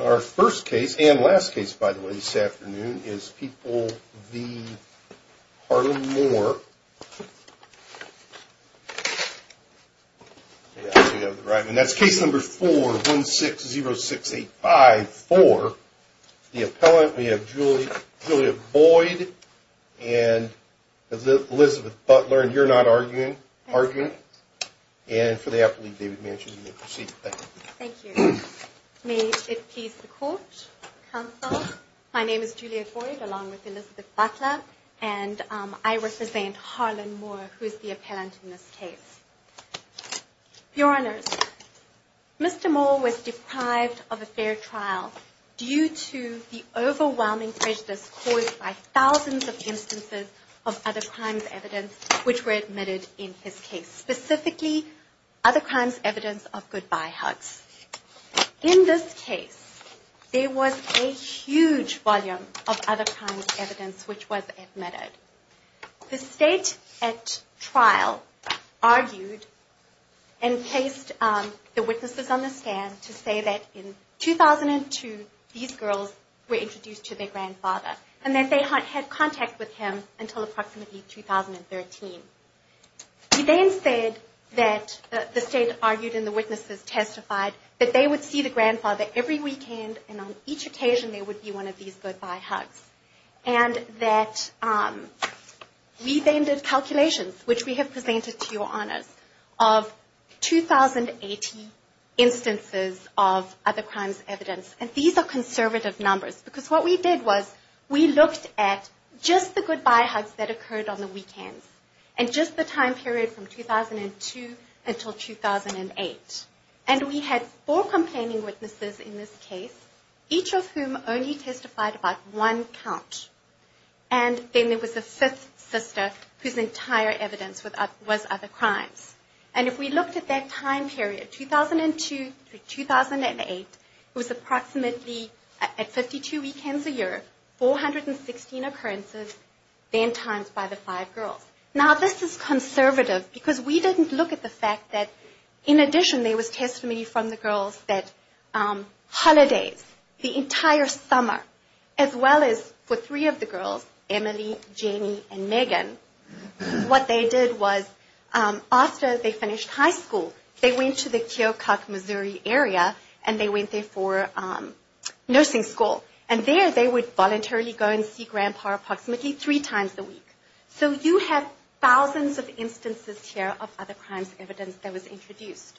Our first case and last case, by the way, this afternoon is People v Harlem Mohr. And that's case number 4-160-685-4. The appellant, we have Julia Boyd and Elizabeth Butler. And you're not arguing? I'm not arguing. And for the apple leaf, David Manchin. Thank you. Thank you. May it please the court, counsel. My name is Julia Boyd, along with Elizabeth Butler. And I represent Harlem Mohr, who is the appellant in this case. Your Honours, Mr. Mohr was deprived of a fair trial due to the overwhelming prejudice caused by thousands of instances of other crimes evidence which were admitted in his case. Specifically, other crimes evidence of goodbye hugs. In this case, there was a huge volume of other crimes evidence which was admitted. The state at trial argued and placed the witnesses on the stand to say that in 2002, these girls were introduced to their grandfather. And that they had contact with him until approximately 2013. He then said that, the state argued and the witnesses testified, that they would see the grandfather every weekend, and on each occasion there would be one of these goodbye hugs. And that we then did calculations, which we have presented to your Honours, of 2,080 instances of other crimes evidence. And these are conservative numbers. Because what we did was, we looked at just the goodbye hugs that occurred on the weekends. And just the time period from 2002 until 2008. And we had four complaining witnesses in this case, each of whom only testified about one count. And then there was a fifth sister, whose entire evidence was other crimes. And if we looked at that time period, 2002 to 2008, it was approximately, at 52 weekends a year, 416 occurrences, then times by the five girls. Now, this is conservative, because we didn't look at the fact that, in addition, there was testimony from the girls that holidays, the entire summer, as well as for three of the girls, Emily, Jenny, and Megan, what they did was, after they finished high school, they went to the Keokuk, Missouri area, and they went there for nursing school. And there they would voluntarily go and see grandpa approximately three times a week. So you have thousands of instances here of other crimes evidence that was introduced.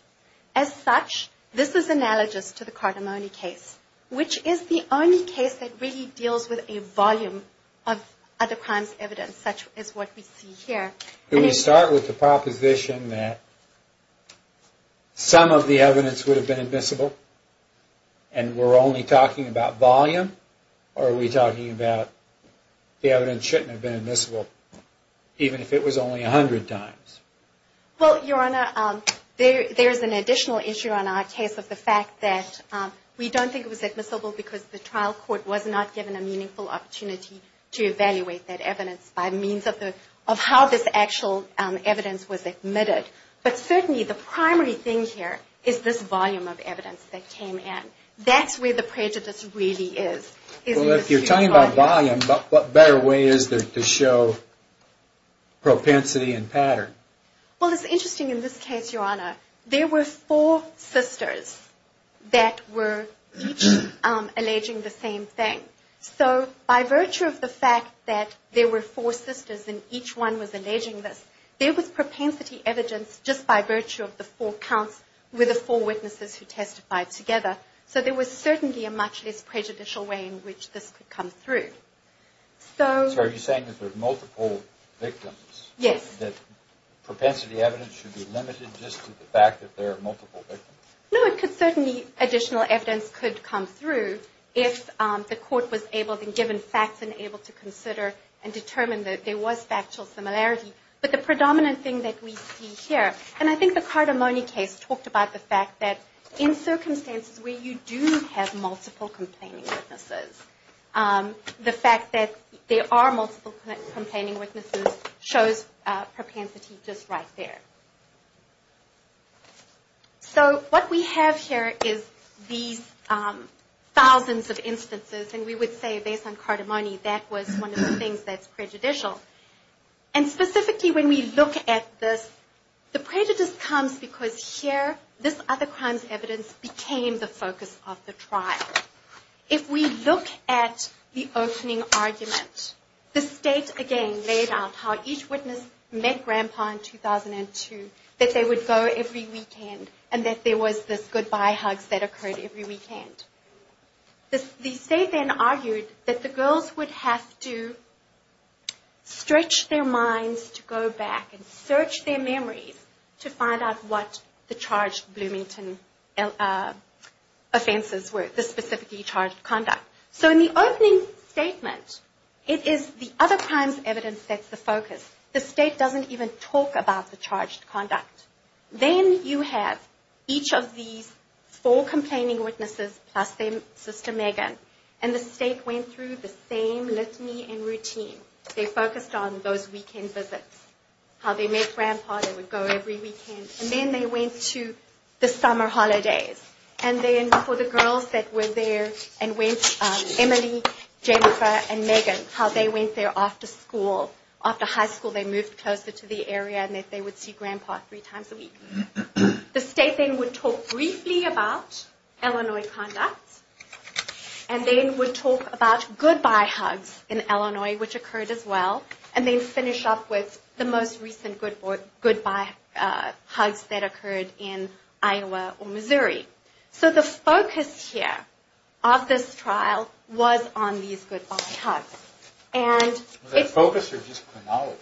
As such, this is analogous to the Cardamone case, which is the only case that really deals with a volume of other crimes evidence, as what we see here. Can we start with the proposition that some of the evidence would have been admissible, and we're only talking about volume? Or are we talking about the evidence shouldn't have been admissible, even if it was only 100 times? Well, Your Honor, there's an additional issue on our case of the fact that we don't think it was admissible because the trial court was not given a meaningful opportunity to evaluate that evidence by means of how this actual evidence was admitted. But certainly the primary thing here is this volume of evidence that came in. That's where the prejudice really is. Well, if you're talking about volume, what better way is there to show propensity and pattern? Well, it's interesting in this case, Your Honor. There were four sisters that were each alleging the same thing. So by virtue of the fact that there were four sisters and each one was alleging this, there was propensity evidence just by virtue of the four counts with the four witnesses who testified together. So there was certainly a much less prejudicial way in which this could come through. So are you saying that there are multiple victims? Yes. That propensity evidence should be limited just to the fact that there are multiple victims? No, certainly additional evidence could come through if the court was able and given facts and able to consider and determine that there was factual similarity. But the predominant thing that we see here, and I think the Cardamone case talked about the fact that in circumstances where you do have multiple complaining witnesses, the fact that there are multiple complaining witnesses shows propensity just right there. So what we have here is these thousands of instances, and we would say based on Cardamone that was one of the things that's prejudicial. And specifically when we look at this, the prejudice comes because here this other crimes evidence became the focus of the trial. If we look at the opening argument, the State, again, laid out how each witness met Grandpa in 2002, that they would go every weekend, and that there was this goodbye hug that occurred every weekend. The State then argued that the girls would have to stretch their minds to go back and search their memories to find out what the charged Bloomington offenses were, the specifically charged conduct. So in the opening statement, it is the other crimes evidence that's the focus. The State doesn't even talk about the charged conduct. Then you have each of these four complaining witnesses plus their sister Megan, and the State went through the same litany and routine. They focused on those weekend visits, how they met Grandpa, they would go every weekend, and then they went to the summer holidays. And then for the girls that were there and went, Emily, Jennifer, and Megan, how they went there after school. After high school they moved closer to the area and they would see Grandpa three times a week. The State then would talk briefly about Illinois conduct, and then would talk about goodbye hugs in Illinois, which occurred as well, and then finish up with the most recent goodbye hugs that occurred in Iowa or Missouri. So the focus here of this trial was on these goodbye hugs. Was that focus or just chronology?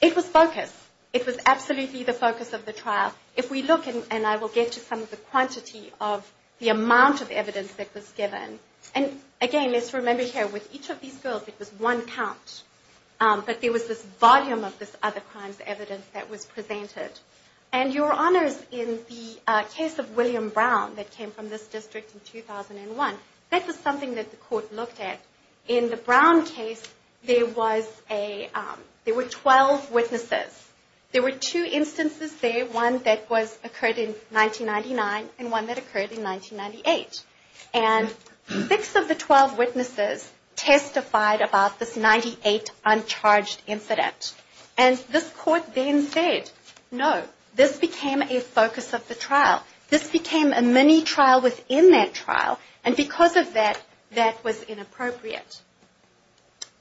It was focus. It was absolutely the focus of the trial. If we look, and I will get to some of the quantity of the amount of evidence that was given, and again, let's remember here, with each of these girls it was one count, but there was this volume of this other crimes evidence that was presented. And Your Honors, in the case of William Brown that came from this district in 2001, that was something that the court looked at. In the Brown case there were 12 witnesses. There were two instances there, one that occurred in 1999 and one that occurred in 1998. And six of the 12 witnesses testified about this 98 uncharged incident. And this court then said, no, this became a focus of the trial. This became a mini trial within that trial, and because of that, that was inappropriate.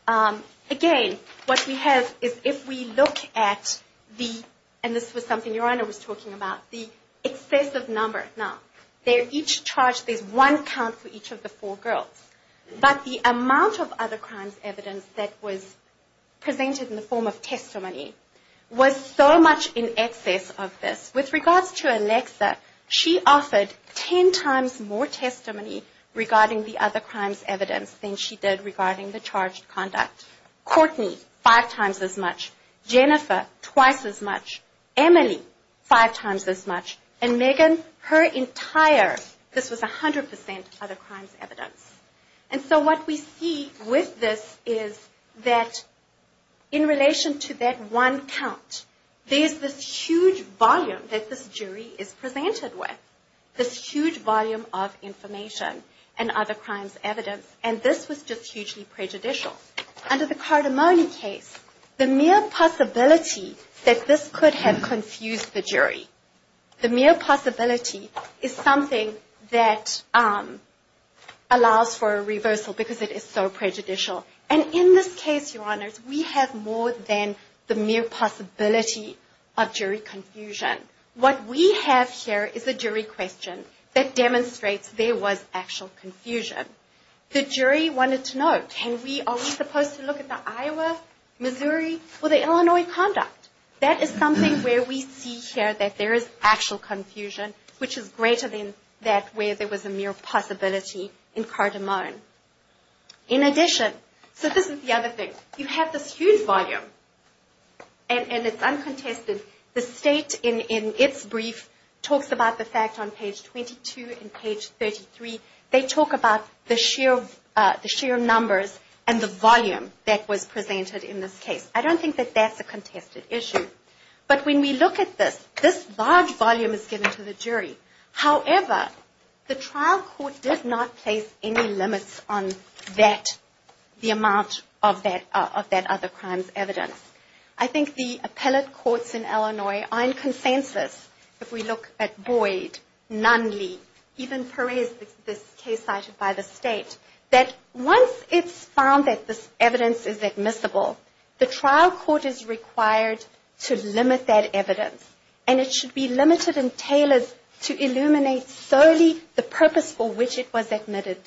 Again, what we have is if we look at the, and this was something Your Honor was talking about, the excessive number, now, they're each charged, there's one count for each of the four girls. But the amount of other crimes evidence that was presented in the form of testimony was so much in excess of this. With regards to Alexa, she offered 10 times more testimony regarding the other crimes evidence than she did regarding the charged conduct. Courtney, five times as much. Jennifer, twice as much. Emily, five times as much. And Megan, her entire, this was 100% other crimes evidence. And so what we see with this is that in relation to that one count, there's this huge volume that this jury is presented with, this huge volume of information and other crimes evidence, and this was just hugely prejudicial. Now, under the Cardamone case, the mere possibility that this could have confused the jury, the mere possibility is something that allows for a reversal because it is so prejudicial. And in this case, Your Honors, we have more than the mere possibility of jury confusion. What we have here is a jury question that demonstrates there was actual confusion. The jury wanted to know, are we supposed to look at the Iowa, Missouri, or the Illinois conduct? That is something where we see here that there is actual confusion, which is greater than that where there was a mere possibility in Cardamone. In addition, so this is the other thing. You have this huge volume, and it's uncontested. The State, in its brief, talks about the fact on page 22 and page 33. They talk about the sheer numbers and the volume that was presented in this case. I don't think that that's a contested issue. But when we look at this, this large volume is given to the jury. However, the trial court did not place any limits on that, the amount of that other crimes evidence. I think the appellate courts in Illinois are in consensus. If we look at Boyd, Nunley, even Perez, this case cited by the State, that once it's found that this evidence is admissible, the trial court is required to limit that evidence. And it should be limited and tailored to illuminate solely the purpose for which it was admitted,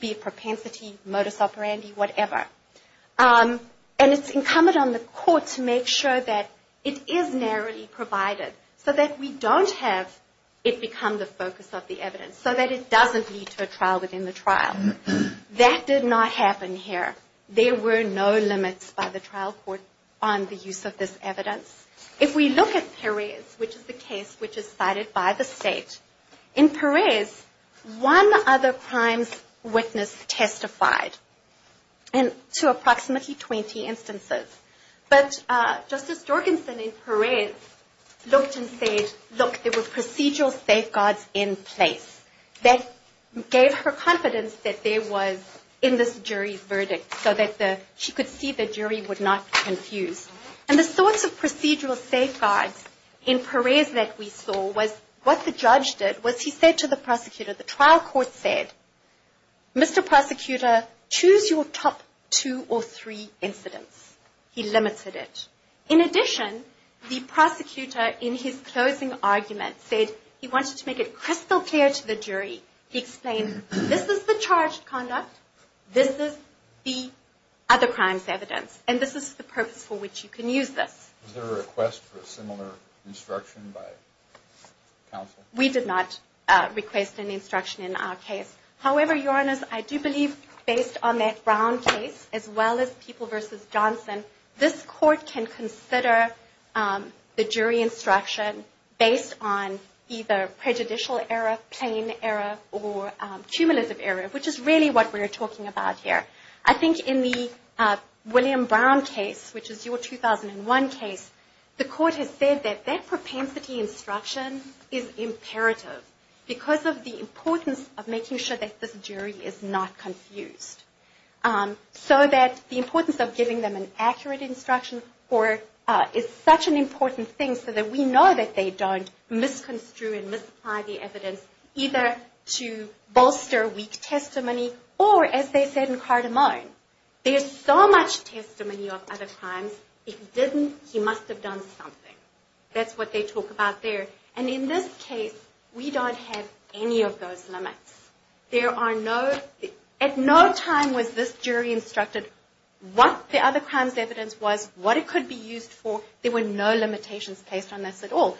be it propensity, modus operandi, whatever. And it's incumbent on the court to make sure that it is narrowly provided so that we don't have it become the focus of the evidence, so that it doesn't lead to a trial within the trial. That did not happen here. There were no limits by the trial court on the use of this evidence. If we look at Perez, which is the case which is cited by the State, in Perez, one other crimes witness testified to approximately 20 instances. But Justice Jorgensen in Perez looked and said, look, there were procedural safeguards in place. That gave her confidence that there was, in this jury's verdict, so that she could see the jury would not be confused. And the sorts of procedural safeguards in Perez that we saw was what the judge did was he said to the prosecutor, the trial court said, Mr. Prosecutor, choose your top two or three incidents. He limited it. In addition, the prosecutor, in his closing argument, said he wanted to make it crystal clear to the jury. He explained, this is the charged conduct. This is the other crimes evidence. And this is the purpose for which you can use this. Was there a request for a similar instruction by counsel? We did not request any instruction in our case. However, Your Honors, I do believe based on that Brown case, as well as People v. Johnson, this court can consider the jury instruction based on either prejudicial error, plain error, or cumulative error, which is really what we're talking about here. I think in the William Brown case, which is your 2001 case, the court has said that that propensity instruction is imperative because of the importance of making sure that this jury is not confused. So that the importance of giving them an accurate instruction is such an important thing so that we know that they don't misconstrue and misapply the evidence either to bolster weak testimony or, as they said in Cardamone, there's so much testimony of other crimes. If he didn't, he must have done something. That's what they talk about there. And in this case, we don't have any of those limits. At no time was this jury instructed what the other crimes evidence was, what it could be used for. There were no limitations placed on this at all.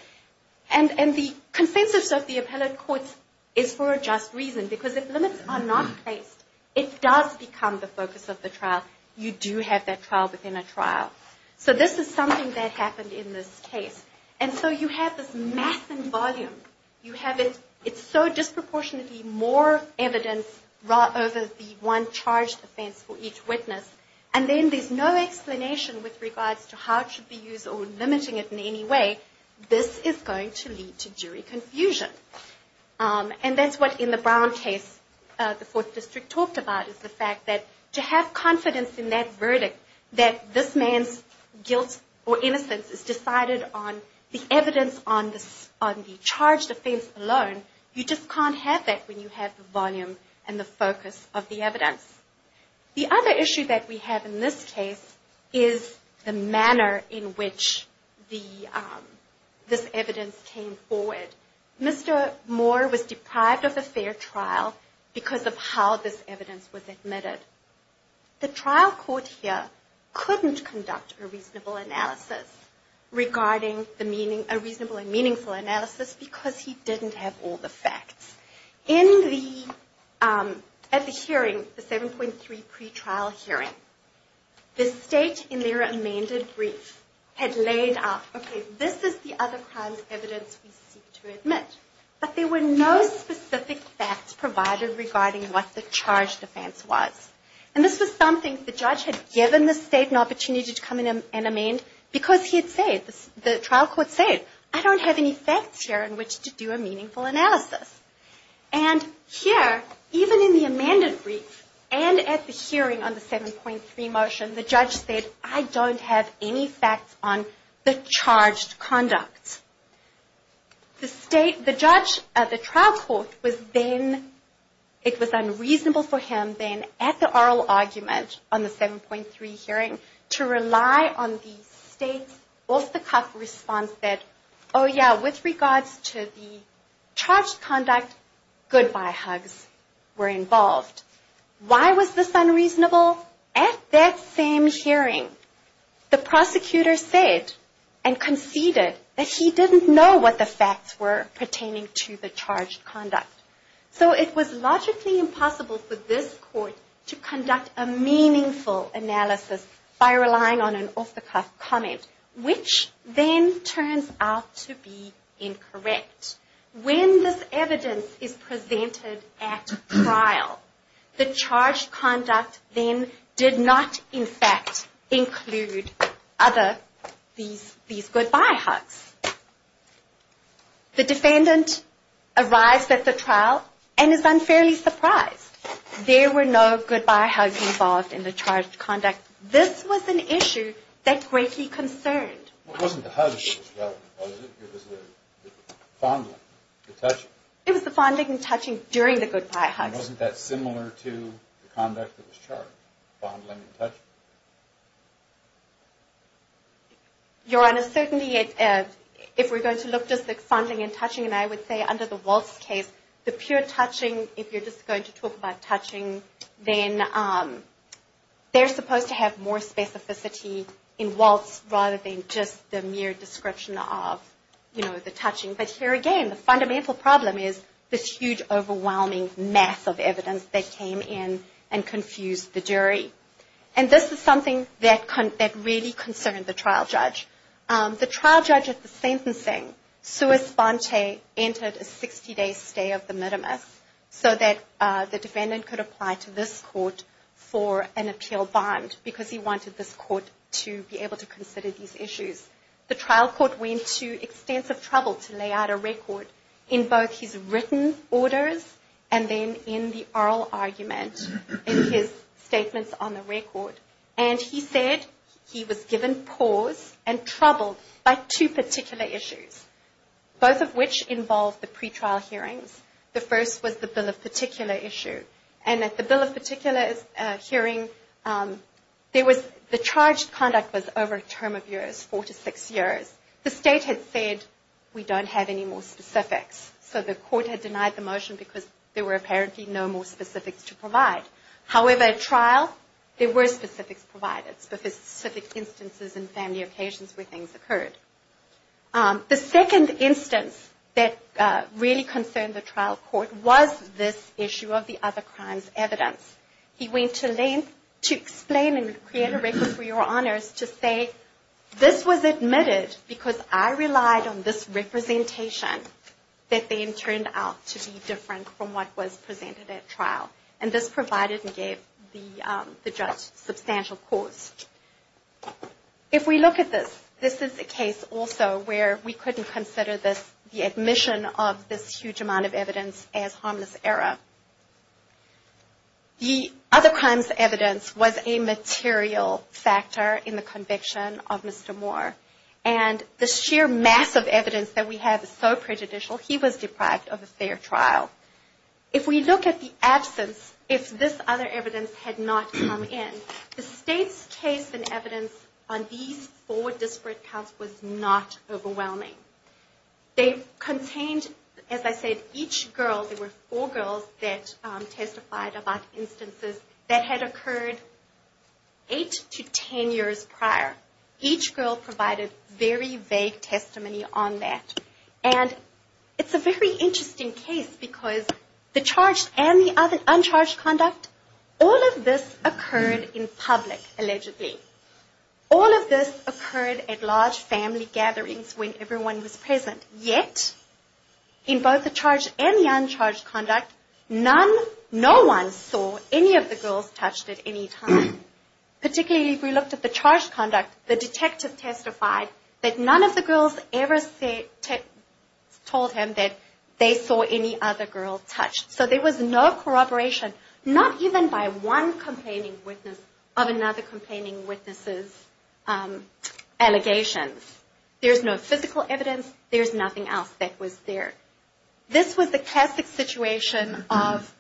And the consensus of the appellate courts is for a just reason because if limits are not placed, it does become the focus of the trial. You do have that trial within a trial. So this is something that happened in this case. And so you have this massive volume. You have it. It's so disproportionately more evidence over the one charged offense for each witness. And then there's no explanation with regards to how it should be used or limiting it in any way. This is going to lead to jury confusion. And that's what, in the Brown case, the Fourth District talked about is the fact that to have confidence in that verdict, that this man's guilt or innocence is decided on the evidence on the charged offense alone, you just can't have that when you have the volume and the focus of the evidence. The other issue that we have in this case is the manner in which this evidence came forward. Mr. Moore was deprived of a fair trial because of how this evidence was admitted. The trial court here couldn't conduct a reasonable and meaningful analysis because he didn't have all the facts. At the hearing, the 7.3 pretrial hearing, the state, in their amended brief, had laid out, okay, this is the other kind of evidence we seek to admit. But there were no specific facts provided regarding what the charged offense was. And this was something the judge had given the state an opportunity to come in and amend because he had said, the trial court said, I don't have any facts here in which to do a meaningful analysis. And here, even in the amended brief and at the hearing on the 7.3 motion, the judge said, I don't have any facts on the charged conduct. The state, the judge at the trial court was then, it was unreasonable for him then, at the oral argument on the 7.3 hearing, to rely on the state's Wolf the Cuff response that, oh yeah, with regards to the charged conduct, goodbye hugs were involved. Why was this unreasonable? At that same hearing, the prosecutor said and conceded that he didn't know what the facts were pertaining to the charged conduct. So it was logically impossible for this court to conduct a meaningful analysis by relying on an Wolf the Cuff comment, which then turns out to be incorrect. When this evidence is presented at trial, the charged conduct then did not, in fact, include other, these goodbye hugs. The defendant arrives at the trial and is unfairly surprised. There were no goodbye hugs involved in the charged conduct. This was an issue that greatly concerned. It wasn't the hugs that was relevant, was it? It was the fondling, the touching. It was the fondling and touching during the goodbye hugs. And wasn't that similar to the conduct that was charged, fondling and touching? Your Honor, certainly if we're going to look just at fondling and touching, and I would say under the Wolf's case, the pure touching, if you're just going to talk about touching, then they're supposed to have more specificity in Wolf's rather than just the mere description of the touching. But here again, the fundamental problem is this huge, overwhelming mass of evidence that came in and confused the jury. And this is something that really concerned the trial judge. The trial judge at the sentencing, Suess Bonte, entered a 60-day stay of the mitimus so that the defendant could apply to this court for an appeal bond because he wanted this court to be able to consider these issues. The trial court went to extensive trouble to lay out a record in both his written orders and then in the oral argument in his statements on the record. And he said he was given pause and troubled by two particular issues, both of which involved the pretrial hearings. The first was the bill of particular issue. And at the bill of particular hearing, the charged conduct was over a term of years, four to six years. The state had said, we don't have any more specifics. So the court had denied the motion because there were apparently no more specifics to provide. However, at trial, there were specifics provided, specific instances and family occasions where things occurred. The second instance that really concerned the trial court was this issue of the other crimes evidence. He went to length to explain and create a record for your honors to say, this was admitted because I relied on this representation that then turned out to be different from what was presented at trial. And this provided and gave the judge substantial cause. If we look at this, this is a case also where we couldn't consider the admission of this huge amount of evidence as harmless error. The other crimes evidence was a material factor in the conviction of Mr. Moore. And the sheer mass of evidence that we have is so prejudicial, he was deprived of a fair trial. If we look at the absence, if this other evidence had not come in, the state's case and evidence on these four disparate counts was not overwhelming. They contained, as I said, each girl, there were four girls that testified about instances that had occurred eight to ten years prior. Each girl provided very vague testimony on that. And it's a very interesting case because the charged and the uncharged conduct, all of this occurred in public, allegedly. All of this occurred at large family gatherings when everyone was present. Yet, in both the charged and the uncharged conduct, none, no one saw any of the girls touched at any time. Particularly if we looked at the charged conduct, the detective testified that none of the girls ever told him that they saw any other girl touched. So there was no corroboration, not even by one complaining witness of another complaining witness's allegations. There's no physical evidence. There's nothing else that was there. This was the classic situation of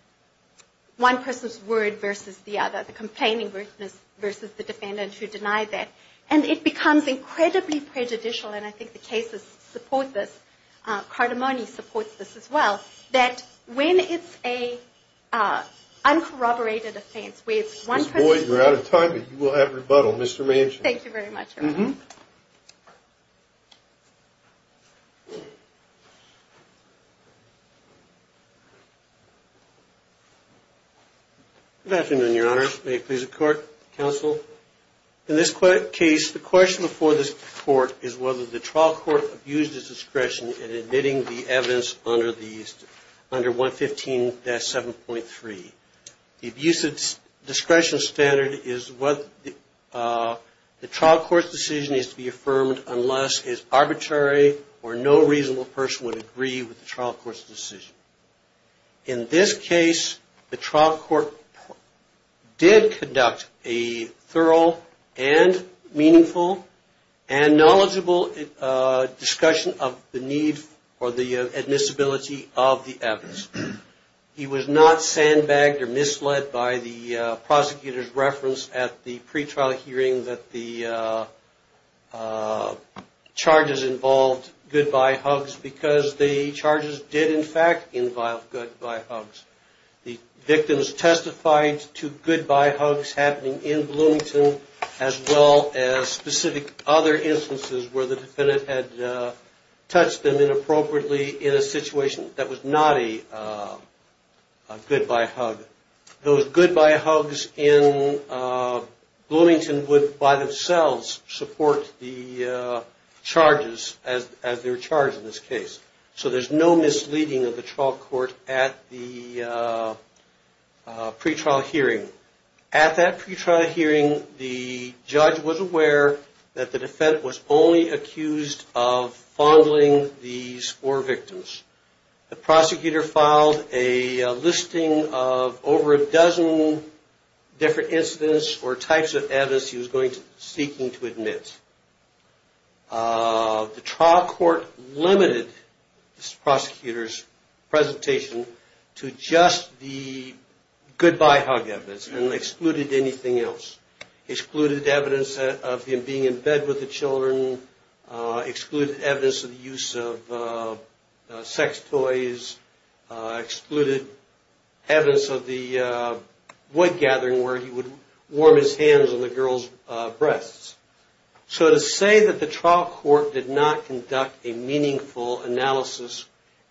one person's word versus the other, the complaining witness versus the defendant who denied that. And it becomes incredibly prejudicial, and I think the cases support this. Cardamone supports this as well, that when it's an uncorroborated offense where it's one person's word. Ms. Boyd, we're out of time, but you will have rebuttal. Mr. Manchin. Thank you very much, Your Honor. Good afternoon, Your Honor. May it please the Court, Counsel. In this case, the question before this Court is whether the trial court abused its discretion in admitting the evidence under 115-7.3. The abuse of discretion standard is what the trial court's decision is to be affirmed unless it's arbitrary or no reasonable person would agree with the trial court's decision. In this case, the trial court did conduct a thorough and meaningful and knowledgeable discussion of the need for the admissibility of the evidence. He was not sandbagged or misled by the prosecutor's reference at the pretrial hearing that the charges involved goodbye hugs because the charges did, in fact, involve goodbye hugs. The victims testified to goodbye hugs happening in Bloomington as well as specific other instances where the defendant had touched them inappropriately in a situation that was not a goodbye hug. Those goodbye hugs in Bloomington would by themselves support the charges as they're charged in this case. So there's no misleading of the trial court at the pretrial hearing. At that pretrial hearing, the judge was aware that the defendant was only accused of fondling these four victims. The prosecutor filed a listing of over a dozen different incidents or types of evidence he was seeking to admit. The trial court limited this prosecutor's presentation to just the goodbye hug evidence and excluded anything else. Excluded evidence of him being in bed with the children, excluded evidence of the use of sex toys, excluded evidence of the wood gathering where he would warm his hands on the girls' breasts. So to say that the trial court did not conduct a meaningful analysis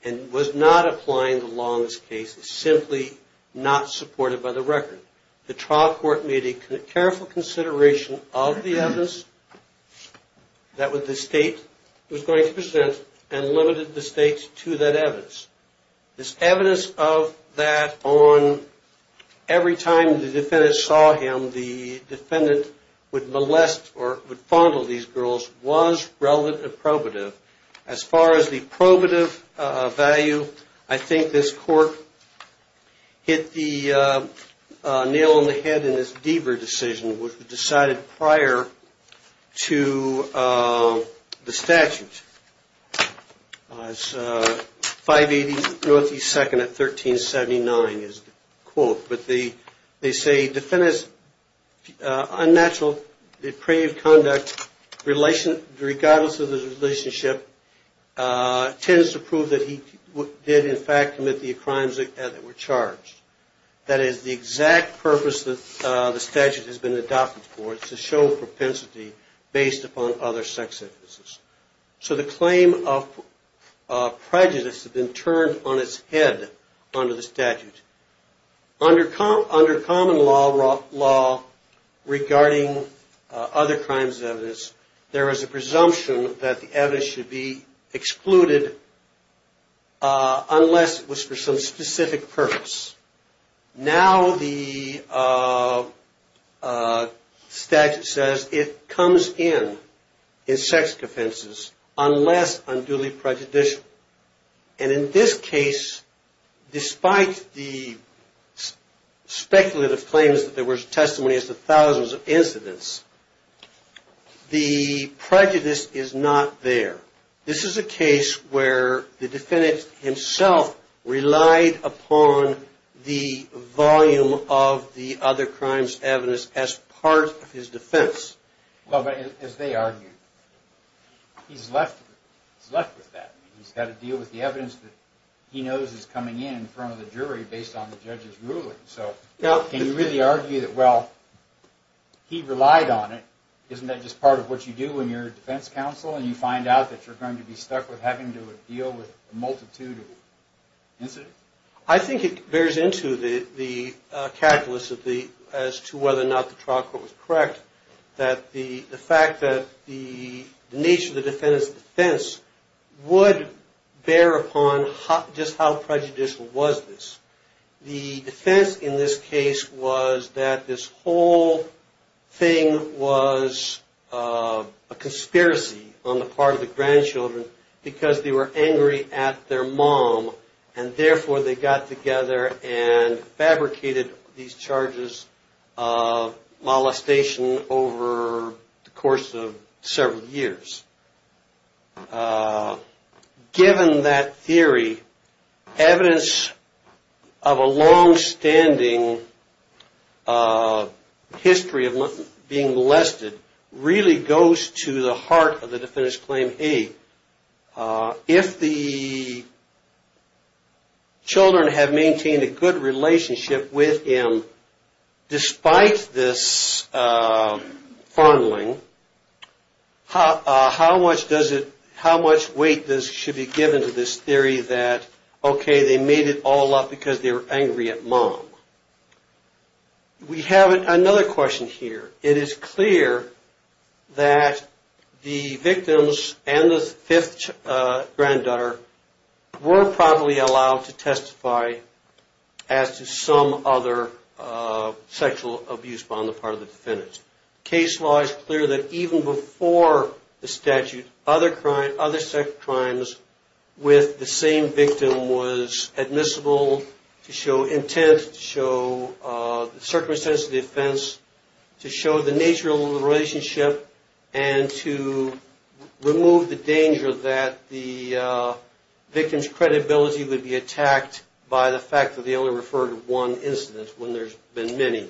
and was not applying the law in this case is simply not supported by the record. The trial court made a careful consideration of the evidence that the state was going to present and limited the state to that evidence. This evidence of that on every time the defendant saw him, the defendant would molest or would fondle these girls was relevant and probative. As far as the probative value, I think this court hit the nail on the head in this Deaver decision which was decided prior to the statute. It's 580 North East 2nd at 1379 is the quote. But they say the defendant's unnatural depraved conduct regardless of the relationship tends to prove that he did in fact commit the crimes that were charged. That is the exact purpose that the statute has been adopted for, to show propensity based upon other sex offenses. So the claim of prejudice has been turned on its head under the statute. Under common law regarding other crimes as evidence, there is a presumption that the evidence should be excluded unless it was for some specific purpose. Now the statute says it comes in in sex offenses unless unduly prejudicial. And in this case, despite the speculative claims that there was testimony as to thousands of incidents, the prejudice is not there. This is a case where the defendant himself relied upon the volume of the other crimes evidence as part of his defense. Well, but as they argued, he's left with that. He's got to deal with the evidence that he knows is coming in in front of the jury based on the judge's ruling. So can you really argue that, well, he relied on it, isn't that just part of what you do in your defense counsel and you find out that you're going to be stuck with having to deal with a multitude of incidents? I think it bears into the calculus as to whether or not the trial court was correct that the fact that the nature of the defendant's defense would bear upon just how prejudicial was this. The defense in this case was that this whole thing was a conspiracy on the part of the grandchildren because they were angry at their mom and therefore they got together and fabricated these charges of molestation over the course of several years. Given that theory, evidence of a longstanding history of being molested really goes to the heart of the defendant's claim. If the children have maintained a good relationship with him despite this fondling, how much weight should be given to this theory that, okay, they made it all up because they were angry at mom? We have another question here. It is clear that the victims and the fifth granddaughter were probably allowed to testify as to some other sexual abuse on the part of the defendant. Case law is clear that even before the statute, other crimes with the same victim was admissible to show intent, to show the circumstance of the offense, to show the nature of the relationship and to remove the danger that the victim's credibility would be attacked by the fact that they only referred to one incident when there's been many.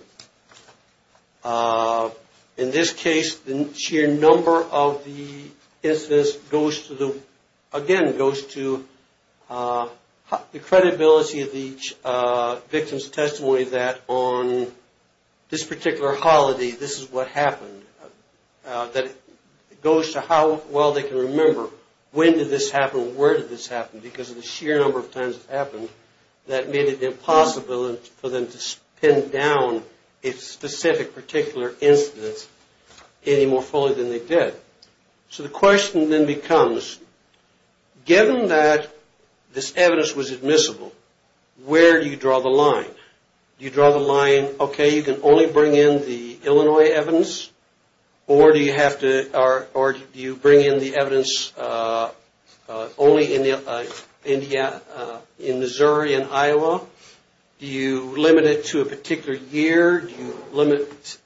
In this case, the sheer number of the incidents, again, goes to the credibility of each victim's testimony that on this particular holiday, this is what happened. It goes to how well they can remember when did this happen, where did this happen because of the sheer number of times it happened that made it impossible for them to pin down a specific particular instance any more fully than they did. So the question then becomes, given that this evidence was admissible, where do you draw the line? Do you draw the line, okay, you can only bring in the Illinois evidence or do you bring in the evidence only in Missouri and Iowa? Do you limit it to a particular year? Where do you limit,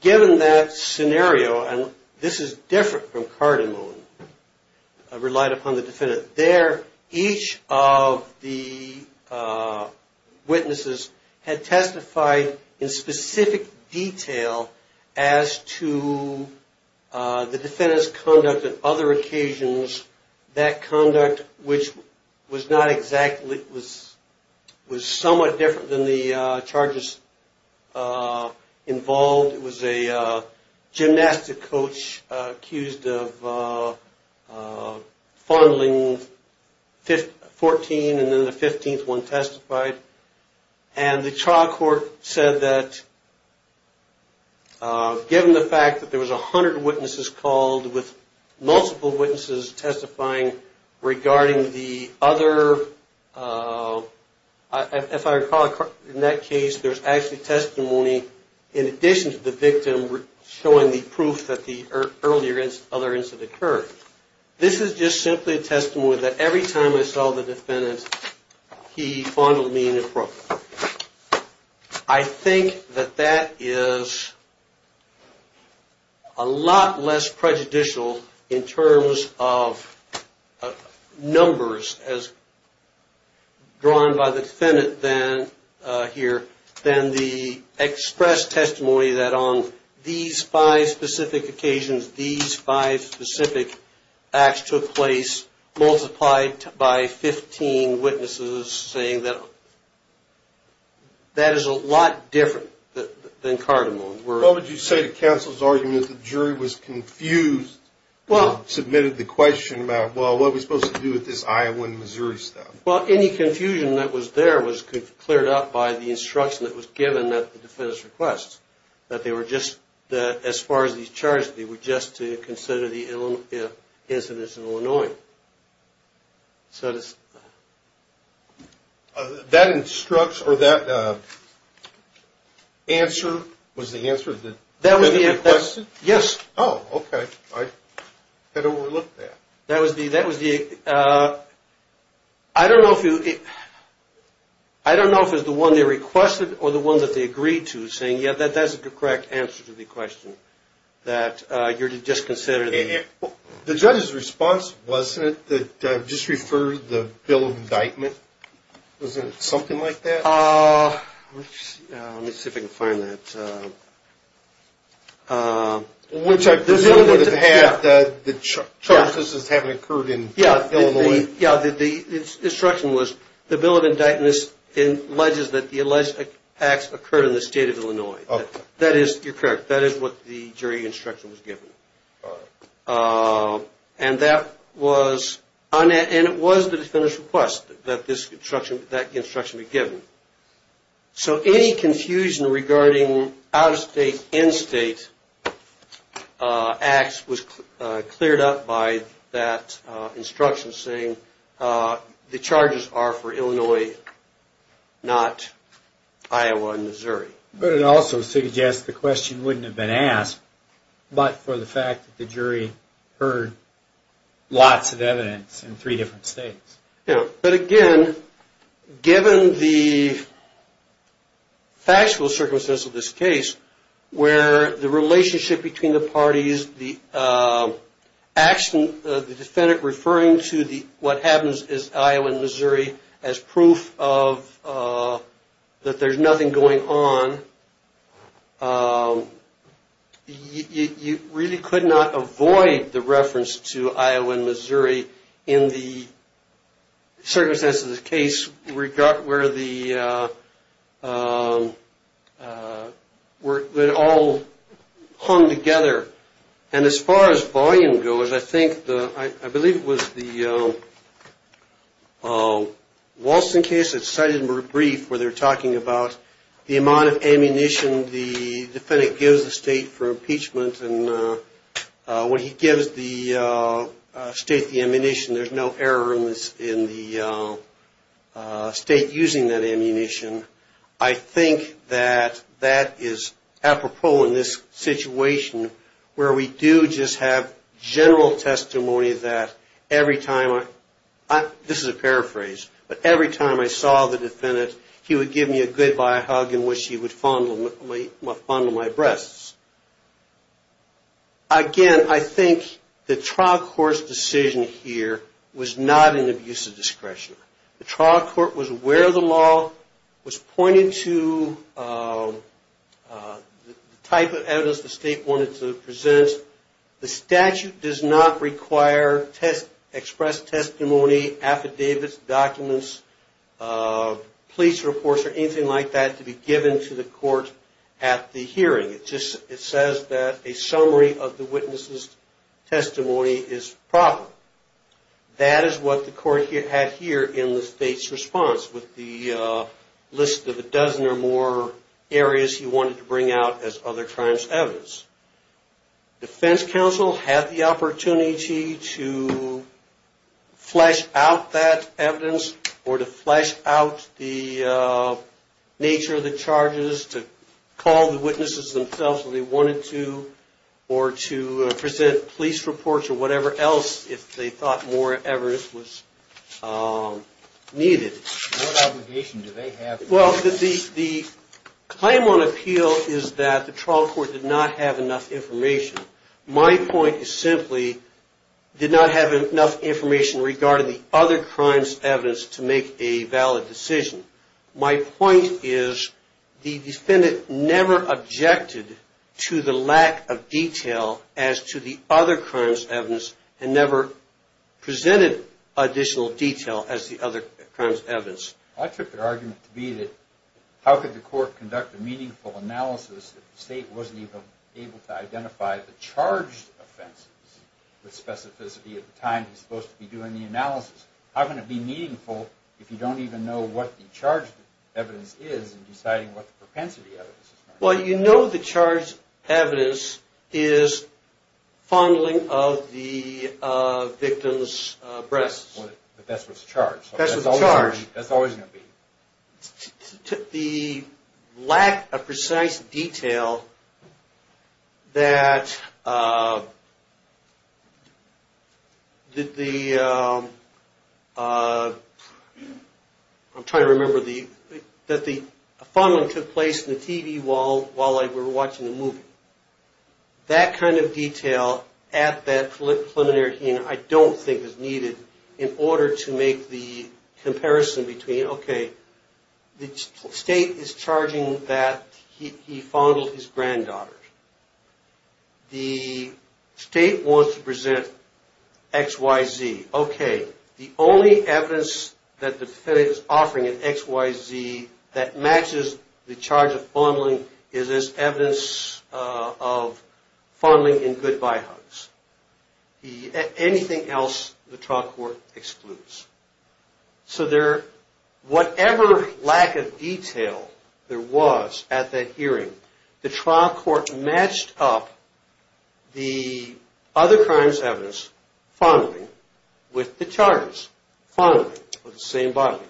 given that scenario, and this is different from Cardamone, relied upon the defendant. Each of the witnesses had testified in specific detail as to the defendant's conduct at other occasions, that conduct which was somewhat different than the charges involved. It was a gymnastic coach accused of fondling 14 and then the 15th one testified, and the trial court said that given the fact that there was 100 witnesses called with multiple witnesses testifying regarding the other, if I recall in that case, there's actually testimony in addition to the victim showing the proof that the earlier other incident occurred. This is just simply a testimony that every time I saw the defendant, he fondled me in the throat. I think that that is a lot less prejudicial in terms of numbers as drawn by the defendant than here, than the express testimony that on these five specific occasions, these five specific acts took place, multiplied by 15 witnesses saying that that is a lot different than Cardamone. What would you say to counsel's argument that the jury was confused and submitted the question about, well, what are we supposed to do with this Iowa and Missouri stuff? Well, any confusion that was there was cleared up by the instruction that was given at the defendant's request. That they were just, as far as these charges, they were just to consider the incidents in Illinois. That instruction, or that answer, was the answer that the defendant requested? Yes. Oh, okay. I had overlooked that. That was the, I don't know if it was the one they requested or the one that they agreed to, saying, yeah, that's the correct answer to the question. That you're to just consider the... The judge's response, wasn't it, that just referred to the bill of indictment? Wasn't it something like that? Let me see if I can find that. Which I presume would have had the charges as having occurred in Illinois. Yeah, the instruction was, the bill of indictment alleges that the alleged acts occurred in the state of Illinois. That is, you're correct, that is what the jury instruction was given. And that was, and it was the defendant's request that the instruction be given. So any confusion regarding out-of-state, in-state acts was cleared up by that instruction, saying the charges are for Illinois, not Iowa and Missouri. But it also suggests the question wouldn't have been asked, but for the fact that the jury heard lots of evidence in three different states. Yeah, but again, given the factual circumstance of this case, where the relationship between the parties, the action of the defendant referring to what happens in Iowa and Missouri as proof that there's nothing going on, you really could not avoid the reference to Iowa and Missouri in the circumstance of this case, where it all hung together. And as far as volume goes, I think, I believe it was the Walston case that's cited in the brief, where they're talking about the amount of ammunition the defendant gives the state for impeachment. And when he gives the state the ammunition, there's no error in the state using that ammunition. I think that that is apropos in this situation, where we do just have general testimony that every time, this is a paraphrase, but every time I saw the defendant, he would give me a goodbye hug in which he would fondle my breasts. Again, I think the trial court's decision here was not an abuse of discretion. The trial court was where the law was pointing to the type of evidence the state wanted to present. The statute does not require express testimony, affidavits, documents, police reports, or anything like that to be given to the court at the hearing. It just says that a summary of the witness's testimony is proper. That is what the court had here in the state's response, with the list of a dozen or more areas he wanted to bring out as other crimes evidence. Defense counsel had the opportunity to flesh out that evidence, or to flesh out the nature of the charges, to call the witnesses themselves if they wanted to, or to present police reports or whatever else, if they thought more evidence was needed. What obligation do they have? The claim on appeal is that the trial court did not have enough information. My point is simply, did not have enough information regarding the other crimes evidence to make a valid decision. My point is, the defendant never objected to the lack of detail as to the other crimes evidence, and never presented additional detail as the other crimes evidence. I took the argument to be that how could the court conduct a meaningful analysis if the state wasn't even able to identify the charged offenses with specificity at the time he was supposed to be doing the analysis? How can it be meaningful if you don't even know what the charged evidence is in deciding what the propensity evidence is? Well, you know the charged evidence is fondling of the victim's breasts. But that's what's charged. The lack of precise detail that the fondling took place in the TV while I was watching the movie. That kind of detail at that preliminary hearing I don't think is needed in order to make the comparison between, okay, the state is charging that he fondled his granddaughter. The state wants to present X, Y, Z. Okay, the only evidence that the defendant is offering in X, Y, Z that matches the charge of fondling is this evidence of fondling in goodbye hugs. Anything else, the trial court excludes. So whatever lack of detail there was at that hearing, the trial court matched up the other crimes evidence, fondling, with the evidence of fondling in goodbye hugs.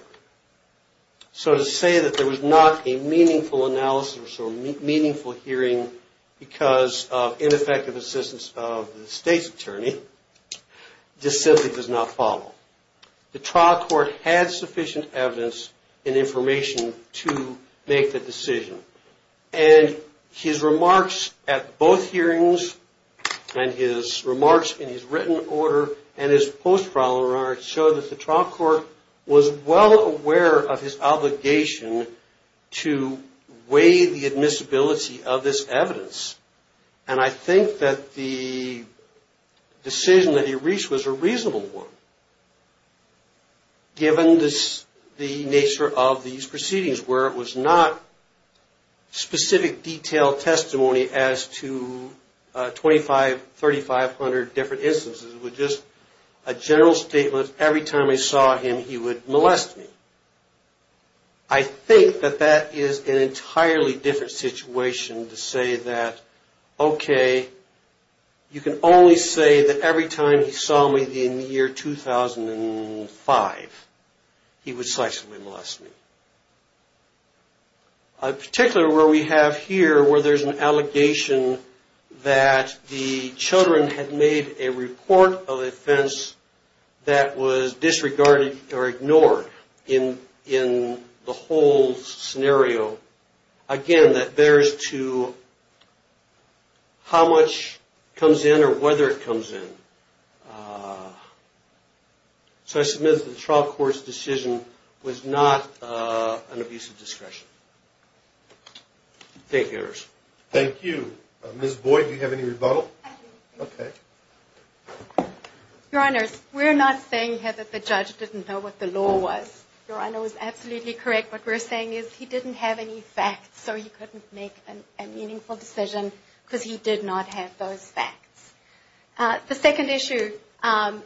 So to say that there was not a meaningful analysis or meaningful hearing because of ineffective assistance of the state's attorney, this simply does not follow. The trial court had sufficient evidence and information to make the decision. And his remarks at both hearings and his remarks in his written order and his post-mortem report, both of those were not meaningful. But the evidence that was presented in his written order showed that the trial court was well aware of his obligation to weigh the admissibility of this evidence. And I think that the decision that he reached was a reasonable one, given the nature of these proceedings, where it was not specific detailed testimony as to 2,500, 3,500 different instances. And I don't think that there was a single statement, every time I saw him, he would molest me. I think that that is an entirely different situation to say that, okay, you can only say that every time he saw me in the year 2005, he would slightly molest me. Particularly where we have here, where there's an allegation that the children had made a report of offense against the children. That was disregarded or ignored in the whole scenario. Again, that bears to how much comes in or whether it comes in. So I submit that the trial court's decision was not an abuse of discretion. Thank you, Your Honors. Thank you. Ms. Boyd, do you have any rebuttal? Your Honors, we're not saying here that the judge didn't know what the law was. Your Honor was absolutely correct. What we're saying is he didn't have any facts, so he couldn't make a meaningful decision because he did not have those facts. The second issue,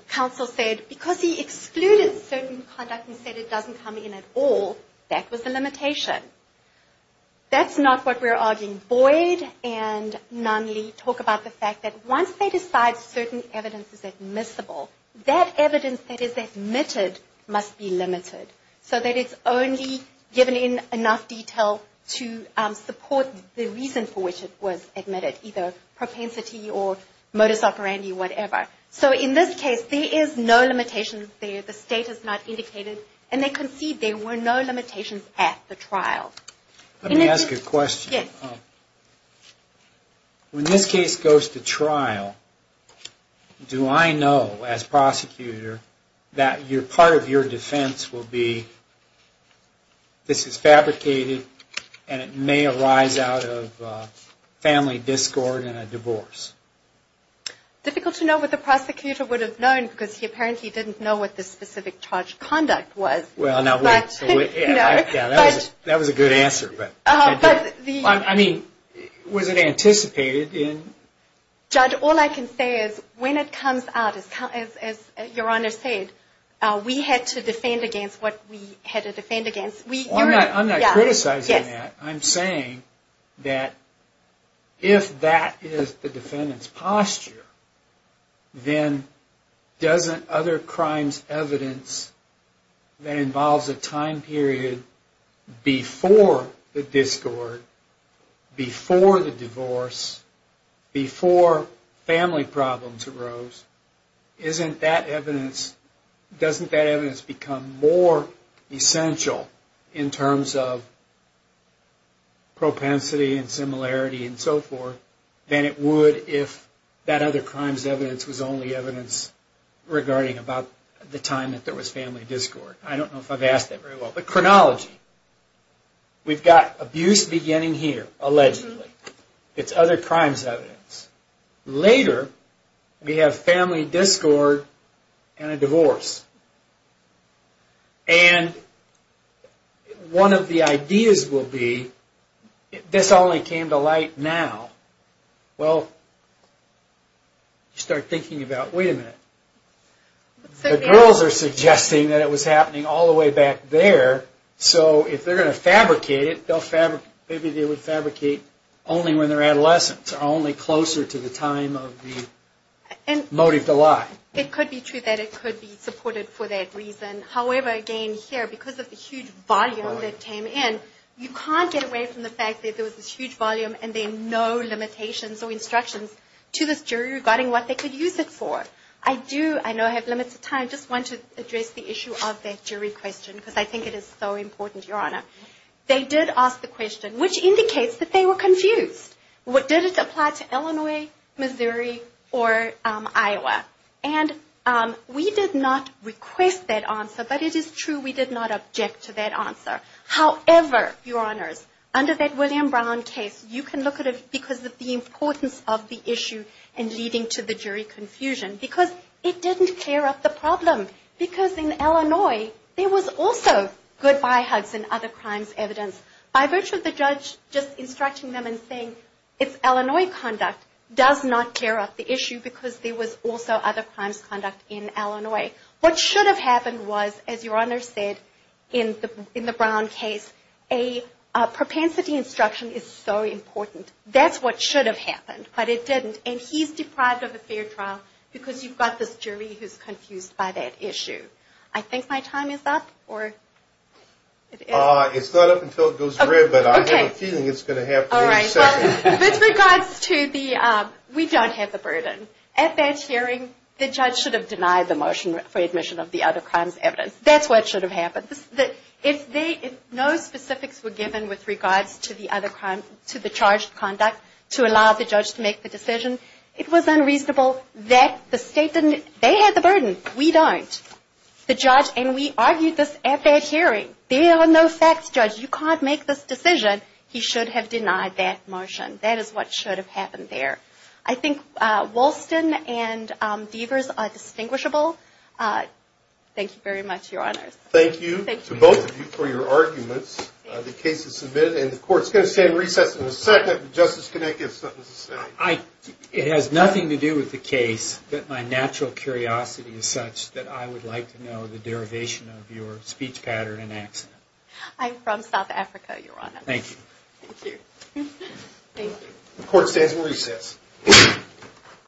counsel said, because he excluded certain conduct and said it doesn't come in at all, that was the limitation. That's not what we're arguing. Boyd and Nunley talk about the fact that once they decide certain evidence is admissible, that evidence that is admitted must be limited, so that it's only given in enough detail to support the reason for which it was admitted, either propensity or modus operandi, whatever. So in this case, there is no limitation there. The state has not indicated, and they concede there were no limitations at the trial. Let me ask a question. When this case goes to trial, do I know, as prosecutor, that part of your defense will be, this is fabricated, and it may arise out of family discord and a divorce? Difficult to know what the prosecutor would have known, because he apparently didn't know what the specific charge of conduct was. Well, now, that was a good answer. I mean, was it anticipated? Judge, all I can say is when it comes out, as your Honor said, we had to defend against what we had to defend against. I'm not criticizing that. I'm saying that if that is the defendant's posture, then doesn't other crimes evidence than in this case have to be considered? If it involves a time period before the discord, before the divorce, before family problems arose, doesn't that evidence become more essential in terms of propensity and similarity and so forth than it would if that other crime's evidence was only evidence regarding about the time that there was family discord? I don't know if I've asked that very well, but chronology. We've got abuse beginning here, allegedly. It's other crime's evidence. Later, we have family discord and a divorce. And one of the ideas will be, this only came to light now. Well, you start thinking about, wait a minute, the girls are suggesting that it was happening all the way back in the day. All the way back there. So if they're going to fabricate it, maybe they would fabricate only when they're adolescents or only closer to the time of the motive to lie. It could be true that it could be supported for that reason. However, again, here, because of the huge volume that came in, you can't get away from the fact that there was this huge volume and there are no limitations or instructions to this jury regarding what they could use it for. I do, I know I have limited time, just want to address the issue of that jury question, because I think it is so important, Your Honor. They did ask the question, which indicates that they were confused. Did it apply to Illinois, Missouri, or Iowa? And we did not request that answer, but it is true we did not object to that answer. However, Your Honors, under that William Brown case, you can look at it because of the importance of the issue and leading to the jury confusion. Because it didn't clear up the problem. Because in Illinois, there was also goodbye hugs and other crimes evidence. By virtue of the judge just instructing them and saying, it's Illinois conduct, does not clear up the issue because there was also other crimes conduct in Illinois. What should have happened was, as Your Honor said, in the Brown case, a propensity instruction is so important. That's what should have happened, but it didn't. And he's deprived of a fair trial because you've got this jury who's confused by that issue. I think my time is up? It's not up until it goes red, but I have a feeling it's going to happen. With regards to the, we don't have the burden. At that hearing, the judge should have denied the motion for admission of the other crimes evidence. That's what should have happened. If no specifics were given with regards to the charged conduct to allow the judge to make the decision, it was unreasonable that the state didn't, they had the burden. We don't. The judge, and we argued this at that hearing. There are no facts, judge. You can't make this decision. He should have denied that motion. That is what should have happened there. I think Walston and Deavers are distinguishable. Thank you very much, Your Honor. Thank you to both of you for your arguments. The case is submitted, and the court is going to stand in recess for a second. Justice Kinnick has something to say. It has nothing to do with the case, but my natural curiosity is such that I would like to know the derivation of your speech pattern and accent. I'm from South Africa, Your Honor. Thank you.